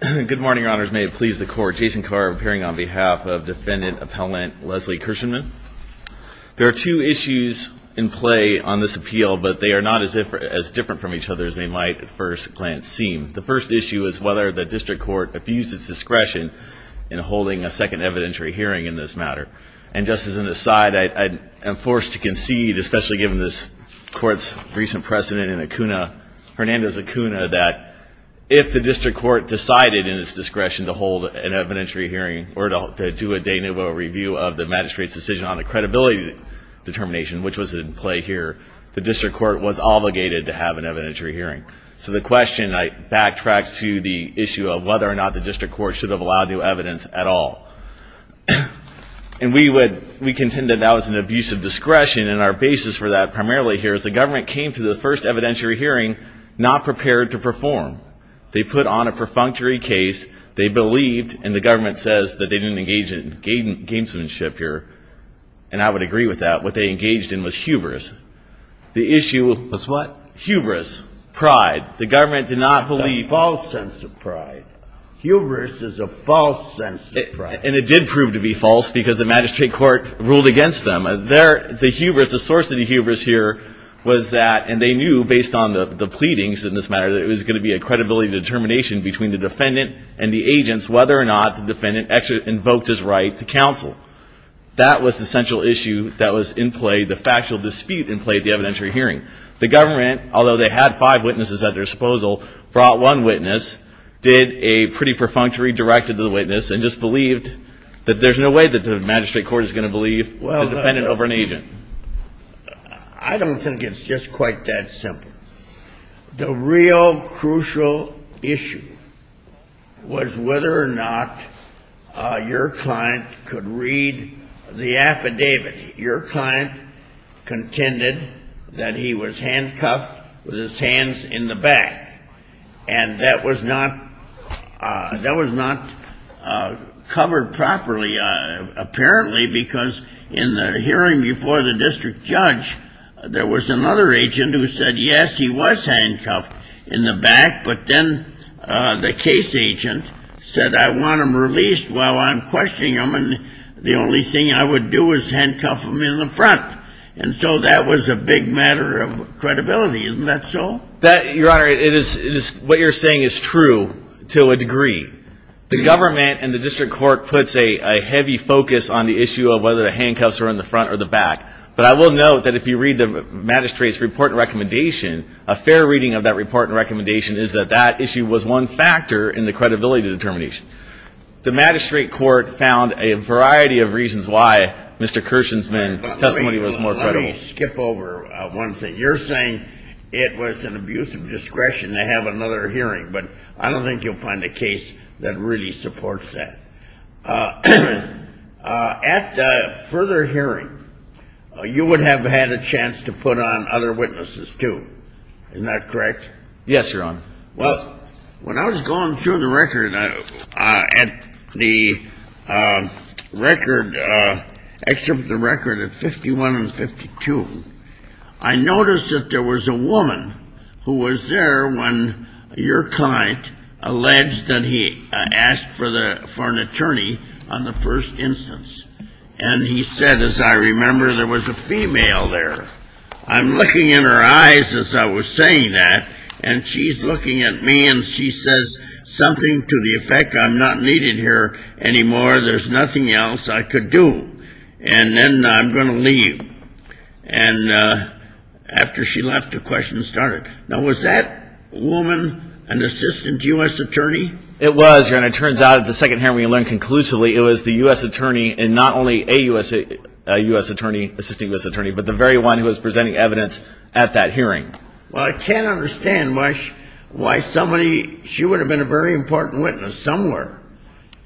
There are two issues in play on this appeal, but they are not as different from each other as they might at first glance seem. The first issue is whether the district court abused its discretion in holding a second evidentiary hearing in this matter. And just as an aside, I am forced to concede, especially given this court's recent precedent in Acuna, Hernandez Acuna, that if the district court decided in its discretion to hold an evidentiary hearing or to do a de novo review of the magistrate's decision on a credibility determination, which was in play here, the district court was obligated to have an evidentiary hearing. So the question backtracks to the issue of whether or not the district court should have allowed new evidence at all. And we would, we contend that that was an abuse of discretion, and our basis for that primarily here is the government came to the first evidentiary hearing not prepared to perform. They put on a perfunctory case, they believed, and the government says that they didn't engage in gamesmanship here, and I would agree with that. What they engaged in was hubris. The issue was what? Hubris, pride. The government did not believe. False sense of pride. Hubris is a false sense of pride. And it did prove to be false because the magistrate court ruled against them. The hubris, the source of the hubris here was that, and they knew based on the pleadings in this matter, that it was going to be a credibility determination between the defendant and the agents whether or not the defendant invoked his right to counsel. That was the central issue that was in play, the factual dispute in play at the evidentiary hearing. The government, although they had five witnesses at their disposal, brought one witness, did a pretty perfunctory directive to the witness, and just believed that there's no way that the magistrate court is going to believe the defendant over an agent. I don't think it's just quite that simple. The real crucial issue was whether or not your client could read the affidavit. Your client contended that he was handcuffed with his hands in the back. And that was not covered properly, apparently, because in the hearing before the district judge, there was another agent who said, yes, he was handcuffed in the back, but then the case agent said, I want him released while I'm questioning him, and the only thing I would do is handcuff him. And so that was a big matter of credibility. Isn't that so? Your Honor, what you're saying is true to a degree. The government and the district court puts a heavy focus on the issue of whether the handcuffs were in the front or the back, but I will note that if you read the magistrate's report and recommendation, a fair reading of that report and recommendation is that that issue was one factor in the credibility determination. The magistrate court found a variety of reasons why Mr. Kirshen's testimony was more credible. Let me skip over one thing. You're saying it was an abuse of discretion to have another hearing, but I don't think you'll find a case that really supports that. At the further hearing, you would have had a chance to put on other witnesses, too. Isn't that correct? Yes, Your Honor. Well, when I was going through the record at the record, excerpt from the record at 51 and 52, I noticed that there was a woman who was there when your client alleged that he asked for an attorney on the first instance. And he said, as I remember, there was a female there. I'm looking in her eyes as I was saying that, and she's looking at me and she says something to the effect I'm not needed here anymore, there's nothing else I could do, and then I'm going to leave. And after she left, the question started. Now, was that woman an assistant U.S. attorney? It was, Your Honor. Well, it turns out at the second hearing we learned conclusively it was the U.S. attorney and not only a U.S. attorney, assistant U.S. attorney, but the very one who was presenting evidence at that hearing. Well, I can't understand why somebody, she would have been a very important witness somewhere.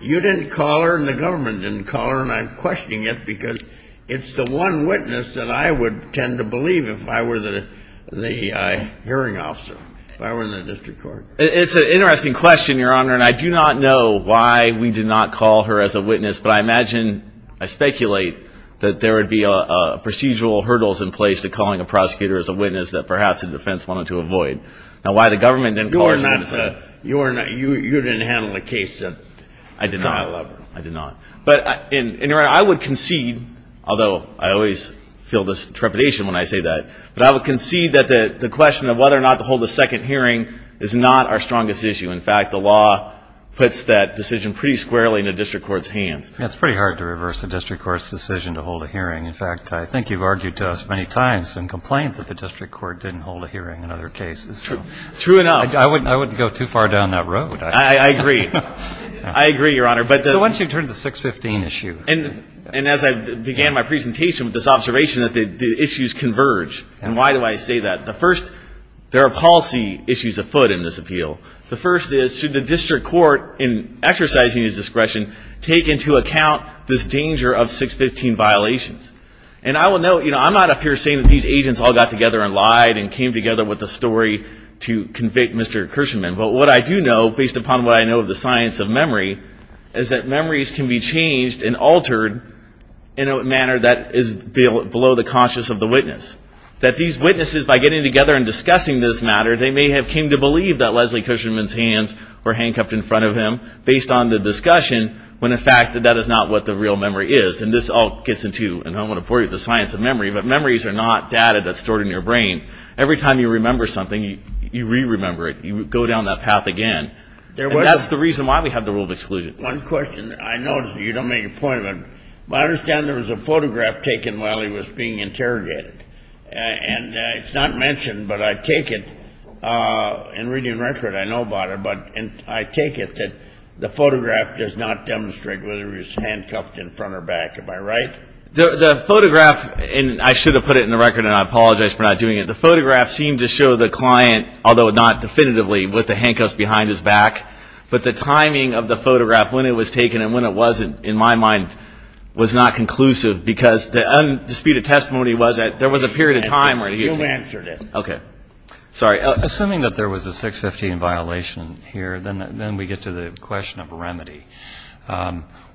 You didn't call her and the government didn't call her, and I'm questioning it because it's the one witness that I would tend to believe if I were the hearing officer, if I were in the district court. It's an interesting question, Your Honor, and I do not know why we did not call her as a witness, but I imagine, I speculate that there would be procedural hurdles in place to calling a prosecutor as a witness that perhaps the defense wanted to avoid. Now, why the government didn't call her as a witness. You didn't handle the case. I did not. I did not. I would concede, although I always feel this trepidation when I say that, but I would concede that the question of whether or not to hold a second hearing is not our strongest issue. In fact, the law puts that decision pretty squarely in the district court's hands. It's pretty hard to reverse the district court's decision to hold a hearing. In fact, I think you've argued to us many times and complained that the district court didn't hold a hearing in other cases. True enough. I wouldn't go too far down that road. I agree. I agree, Your Honor. So why don't you turn to the 615 issue? And as I began my presentation with this observation that the issues converge, and why do I say that? The first, there are policy issues afoot in this appeal. The first is should the district court, in exercising its discretion, take into account this danger of 615 violations? And I will note, you know, I'm not up here saying that these agents all got together and lied and came together with a story to convict Mr. Kershman. But what I do know, based upon what I know of the science of memory, is that memories can be changed and altered in a manner that is below the conscience of the witness. That these witnesses, by getting together and discussing this matter, they may have came to believe that Leslie Kershman's hands were handcuffed in front of him, based on the discussion, when in fact that is not what the real memory is. And this all gets into, and I don't want to bore you with the science of memory, but memories are not data that's stored in your brain. Every time you remember something, you re-remember it. You go down that path again. And that's the reason why we have the rule of exclusion. One question. I know you don't make a point, but I understand there was a photograph taken while he was being interrogated. And it's not mentioned, but I take it, and reading the record I know about it, but I take it that the photograph does not demonstrate whether he was handcuffed in front or back. Am I right? The photograph, and I should have put it in the record and I apologize for not doing it, but the photograph seemed to show the client, although not definitively, with the handcuffs behind his back. But the timing of the photograph, when it was taken and when it wasn't, in my mind, was not conclusive because the undisputed testimony was that there was a period of time where he was handcuffed. You answered it. Okay. Sorry. Assuming that there was a 615 violation here, then we get to the question of remedy.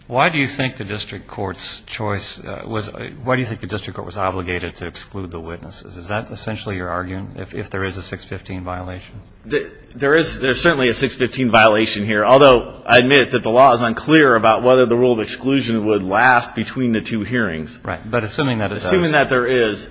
Why do you think the district court's choice was, why do you think the district court was obligated to exclude the witnesses? Is that essentially your argument, if there is a 615 violation? There is certainly a 615 violation here, although I admit that the law is unclear about whether the rule of exclusion would last between the two hearings. Right. But assuming that it does. Assuming that there is.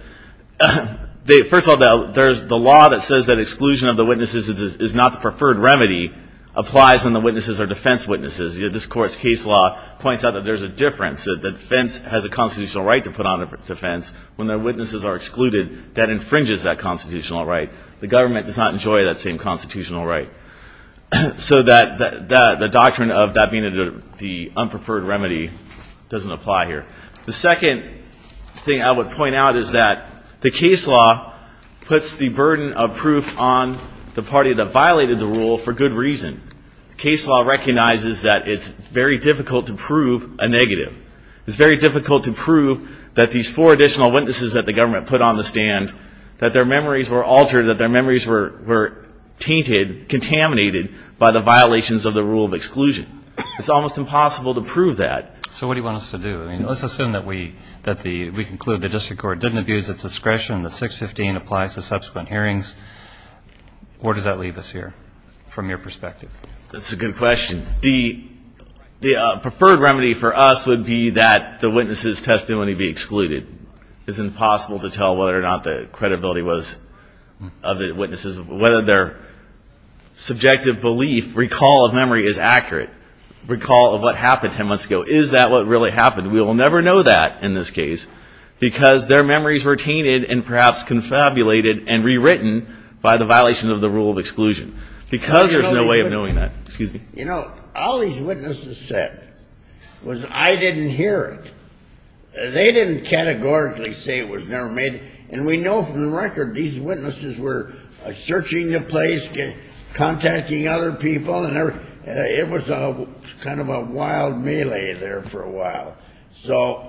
First of all, the law that says that exclusion of the witnesses is not the preferred remedy applies when the witnesses are defense witnesses. This Court's case law points out that there's a difference, that the defense has a constitutional right to put on a defense. When the witnesses are excluded, that infringes that constitutional right. The government does not enjoy that same constitutional right. So the doctrine of that being the unpreferred remedy doesn't apply here. The second thing I would point out is that the case law puts the burden of proof on the party that violated the rule for good reason. Case law recognizes that it's very difficult to prove a negative. It's very difficult to prove that these four additional witnesses that the government put on the stand, that their memories were altered, that their memories were tainted, contaminated by the violations of the rule of exclusion. It's almost impossible to prove that. So what do you want us to do? I mean, let's assume that we conclude the district court didn't abuse its discretion, the 615 applies to subsequent hearings. Where does that leave us here from your perspective? That's a good question. The preferred remedy for us would be that the witnesses' testimony be excluded. It's impossible to tell whether or not the credibility was of the witnesses, whether their subjective belief, recall of memory is accurate, recall of what happened 10 months ago. Is that what really happened? We will never know that in this case because their memories were tainted and perhaps confabulated and rewritten by the violation of the rule of exclusion. Because there's no way of knowing that. You know, all these witnesses said was I didn't hear it. They didn't categorically say it was never made. And we know from the record these witnesses were searching the place, contacting other people. It was kind of a wild melee there for a while. So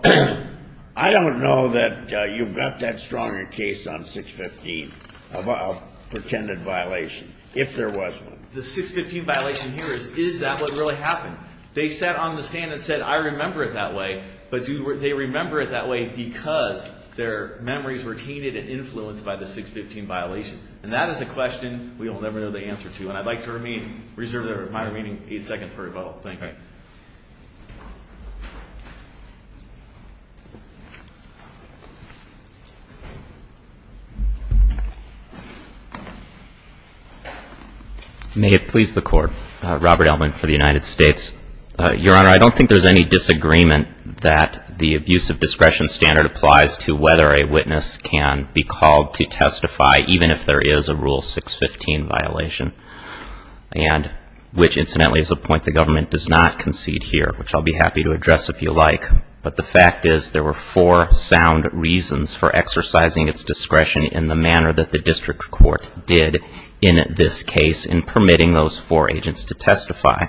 I don't know that you've got that strong a case on 615 of a pretended violation, if there was one. The 615 violation here, is that what really happened? They sat on the stand and said I remember it that way. But do they remember it that way because their memories were tainted and influenced by the 615 violation? And that is a question we will never know the answer to. And I'd like to reserve my remaining eight seconds for rebuttal. Thank you. May it please the Court. Robert Elman for the United States. Your Honor, I don't think there's any disagreement that the abusive discretion standard applies to whether a witness can be called to testify, even if there is a rule 615 violation. And which, incidentally, is a point the government does not want to make. I'll be happy to address if you like, but the fact is there were four sound reasons for exercising its discretion in the manner that the district court did in this case in permitting those four agents to testify.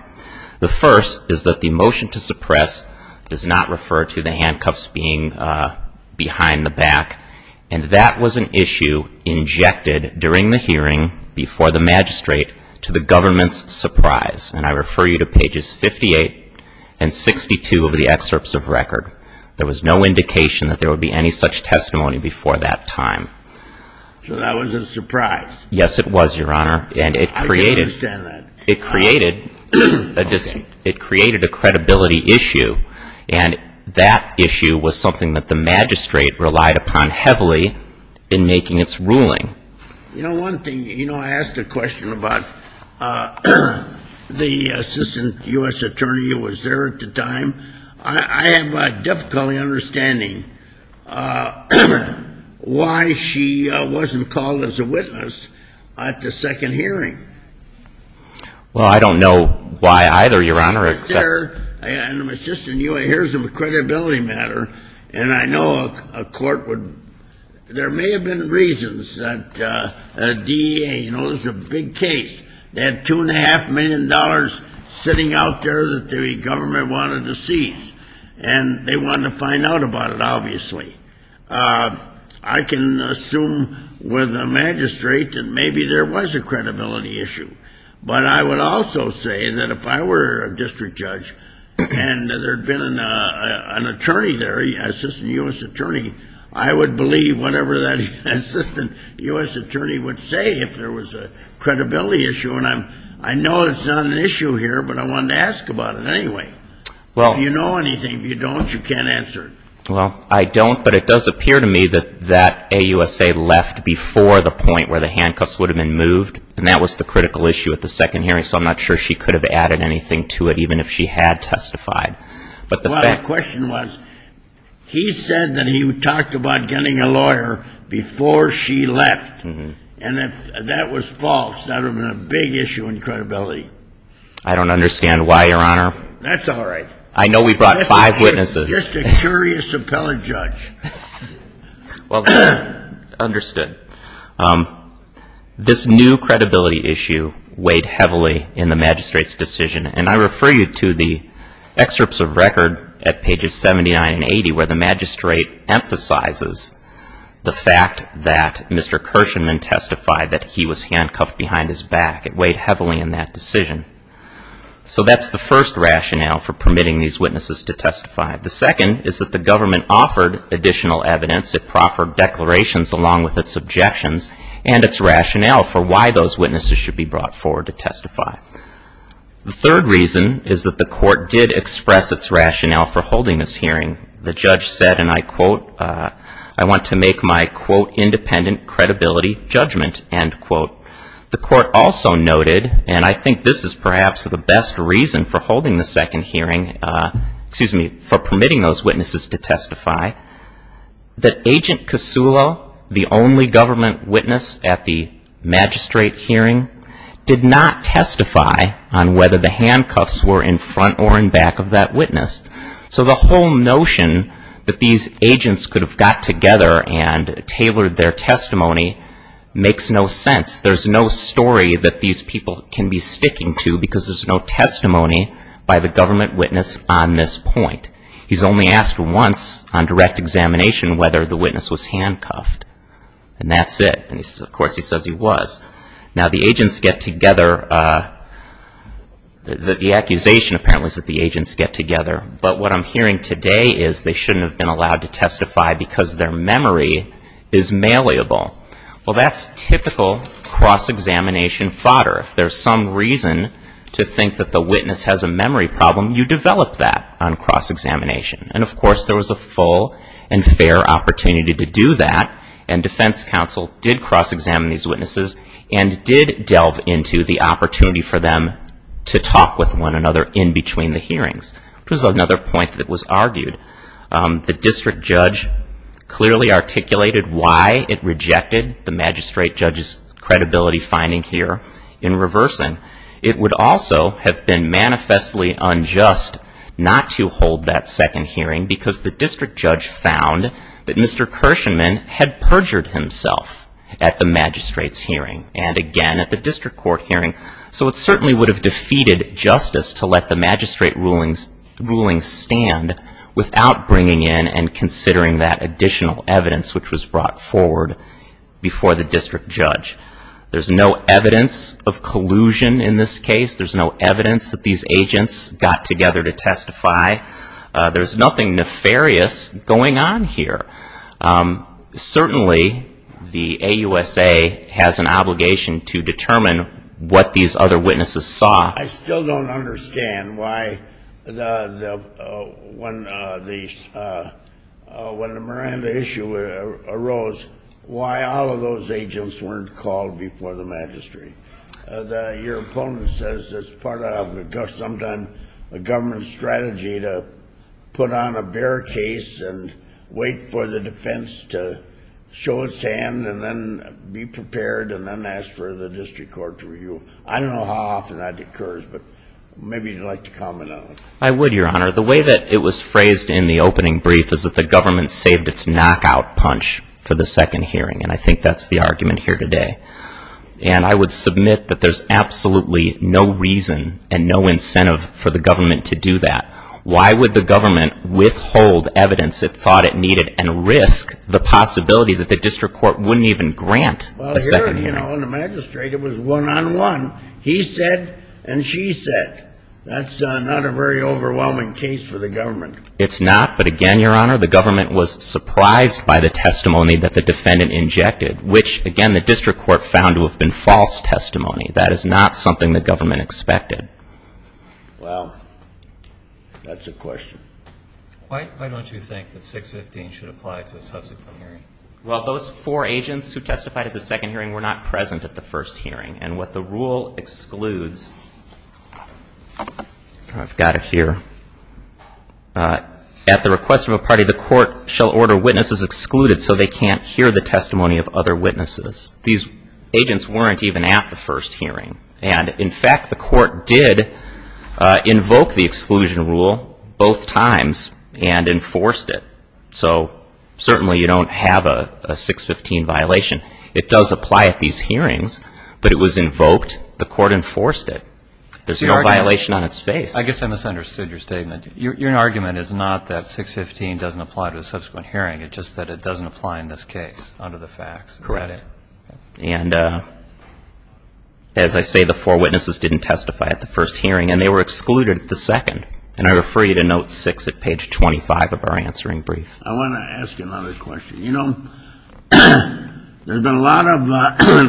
The first is that the motion to suppress does not refer to the handcuffs being behind the back. And that was an issue injected during the hearing before the magistrate to the government's surprise. And I refer you to pages 58 and 62 of the excerpts of record. There was no indication that there would be any such testimony before that time. So that was a surprise. Yes, it was, Your Honor. I can understand that. It created a credibility issue. And that issue was something that the magistrate relied upon heavily in making its ruling. You know, one thing, you know, I asked a question about the assistant U.S. attorney who was there at the time. I am difficultly understanding why she wasn't called as a witness at the second hearing. Well, I don't know why either, Your Honor. She was there. And here's a credibility matter. And I know a court would, there may have been reasons that DEA, you know, this is a big case. They have $2.5 million sitting out there that the government wanted to seize. And they wanted to find out about it, obviously. I can assume with the magistrate that maybe there was a credibility issue. But I would also say that if I were a district judge and there had been an assistant U.S. attorney, I would believe whatever that assistant U.S. attorney would say if there was a credibility issue. And I know it's not an issue here, but I wanted to ask about it anyway. If you know anything. If you don't, you can't answer it. Well, I don't. But it does appear to me that that AUSA left before the point where the handcuffs would have been moved. And that was the critical issue at the second hearing. So I'm not sure she could have added anything to it, even if she had testified. Well, the question was, he said that he talked about getting a lawyer before she left. And if that was false, that would have been a big issue in credibility. I don't understand why, Your Honor. That's all right. I know we brought five witnesses. Just a curious appellate judge. Well, understood. This new credibility issue weighed heavily in the magistrate's decision. And I refer you to the excerpts of record at pages 79 and 80 where the magistrate emphasizes the fact that Mr. Kershenman testified that he was handcuffed behind his back. It weighed heavily in that decision. So that's the first rationale for permitting these witnesses to testify. The second is that the government offered additional evidence. It proffered declarations along with its objections and its rationale for why those witnesses should be brought forward to testify. The third reason is that the court did express its rationale for holding this hearing. The judge said, and I quote, I want to make my, quote, independent credibility judgment, end quote. The court also noted, and I think this is perhaps the best reason for holding the second hearing, excuse me, for permitting those witnesses to testify, that Agent Kasulo, the only government witness at the magistrate hearing, did not testify on whether the handcuffs were in front or in back of that witness. So the whole notion that these agents could have got together and tailored their testimony makes no sense. There's no story that these people can be sticking to because there's no testimony by the government witness on this point. He's only asked once on direct examination whether the witness was handcuffed. And that's it. And, of course, he says he was. Now, the agents get together, the accusation apparently is that the agents get together. But what I'm hearing today is they shouldn't have been allowed to testify because their memory is malleable. Well, that's typical cross-examination fodder. If there's some reason to think that the witness has a memory problem, you develop that on cross-examination. And, of course, there was a full and fair opportunity to do that, and defense counsel did cross-examine these witnesses and did delve into the opportunity for them to talk with one another in between the hearings, which was another point that was argued. The district judge clearly articulated why it rejected the magistrate judge's credibility finding here in reversing. It would also have been manifestly unjust not to hold that second hearing because the district judge found that Mr. Kirshenman had perjured himself at the magistrate's hearing and, again, at the district court hearing. So it certainly would have defeated justice to let the magistrate ruling stand without bringing in and considering that additional evidence which was brought forward before the district judge. There's no evidence of collusion in this case. There's no evidence that these agents got together to testify. There's nothing nefarious going on here. Certainly the AUSA has an obligation to determine what these other witnesses saw. I still don't understand why when the Miranda issue arose, why all of those agents weren't called before the magistrate. Your opponent says it's part of sometimes a government strategy to put on a bare case and wait for the defense to show its hand and then be prepared and then ask for the district court to review. I don't know how often that occurs, but maybe you'd like to comment on it. I would, Your Honor. The way that it was phrased in the opening brief is that the government saved its knockout punch for the second hearing, and I think that's the argument here today. And I would submit that there's absolutely no reason and no incentive for the government to do that. Why would the government withhold evidence it thought it needed and risk the possibility that the district court wouldn't even grant a second hearing? Well, here, you know, in the magistrate, it was one-on-one. He said and she said. That's not a very overwhelming case for the government. It's not, but again, Your Honor, the government was surprised by the testimony that the defendant injected, which, again, the district court found to have been false testimony. That is not something the government expected. Well, that's a question. Why don't you think that 615 should apply to a subsequent hearing? Well, those four agents who testified at the second hearing were not present at the first hearing, and what the rule excludes, I've got it here. At the request of a party, the court shall order witnesses excluded so they can't hear the testimony of other witnesses. These agents weren't even at the first hearing, and in fact, the court did invoke the exclusion rule both times and enforced it. So certainly you don't have a 615 violation. It does apply at these hearings, but it was invoked. The court enforced it. There's no violation on its face. I guess I misunderstood your statement. Your argument is not that 615 doesn't apply to a subsequent hearing. It's just that it doesn't apply in this case under the facts. Is that it? Correct. And as I say, the four witnesses didn't testify at the first hearing, and they were excluded at the second. And I refer you to note six at page 25 of our answering brief. I want to ask another question. You know, there's been a lot of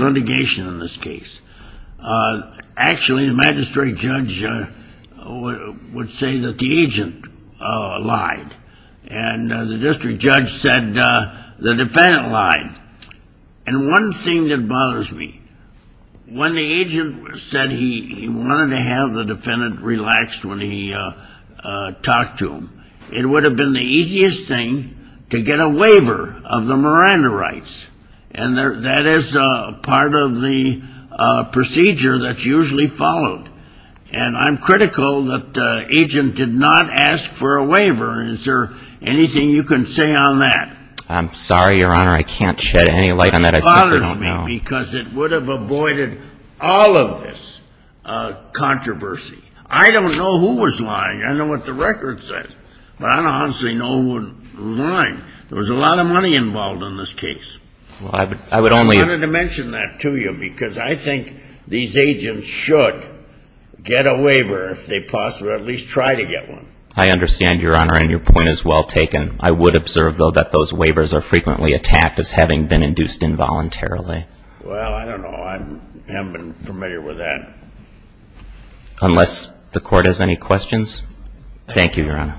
litigation in this case. Actually, the magistrate judge would say that the agent lied. And the district judge said the defendant lied. And one thing that bothers me, when the agent said he wanted to have the defendant relaxed when he talked to him, it would have been the easiest thing to get a waiver of the Miranda rights. And that is part of the procedure that's usually followed. And I'm critical that the agent did not ask for a waiver. Is there anything you can say on that? I'm sorry, Your Honor, I can't shed any light on that. It bothers me because it would have avoided all of this controversy. I don't know who was lying. I know what the record says. But I don't honestly know who was lying. There was a lot of money involved in this case. I wanted to mention that to you because I think these agents should get a waiver if they possibly at least try to get one. I understand, Your Honor, and your point is well taken. I would observe, though, that those waivers are frequently attacked as having been induced involuntarily. Well, I don't know. I haven't been familiar with that. Unless the Court has any questions. Thank you, Your Honor.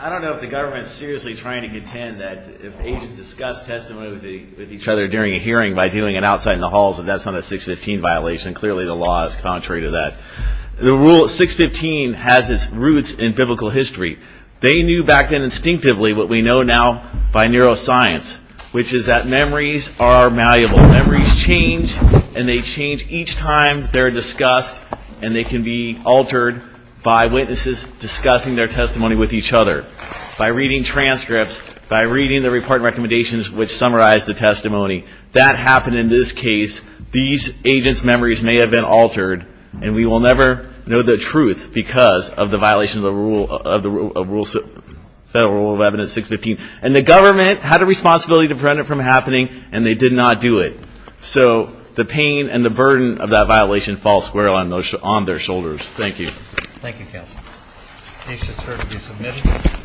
I don't know if the government is seriously trying to contend that if agents discuss testimony with each other during a hearing by doing it outside in the halls, that that's not a 615 violation. Clearly the law is contrary to that. The rule 615 has its roots in biblical history. They knew back then instinctively what we know now by neuroscience, which is that memories are malleable. Memories change, and they change each time they're discussed, and they can be altered by witnesses discussing their testimony with each other, by reading transcripts, by reading the report recommendations which summarize the testimony. That happened in this case. These agents' memories may have been altered, and we will never know the truth because of the violation of the Federal Rule of Evidence 615. And the government had a responsibility to prevent it from happening, and they did not do it. So the pain and the burden of that violation falls squarely on their shoulders. Thank you. Thank you, counsel. The case is here to be submitted.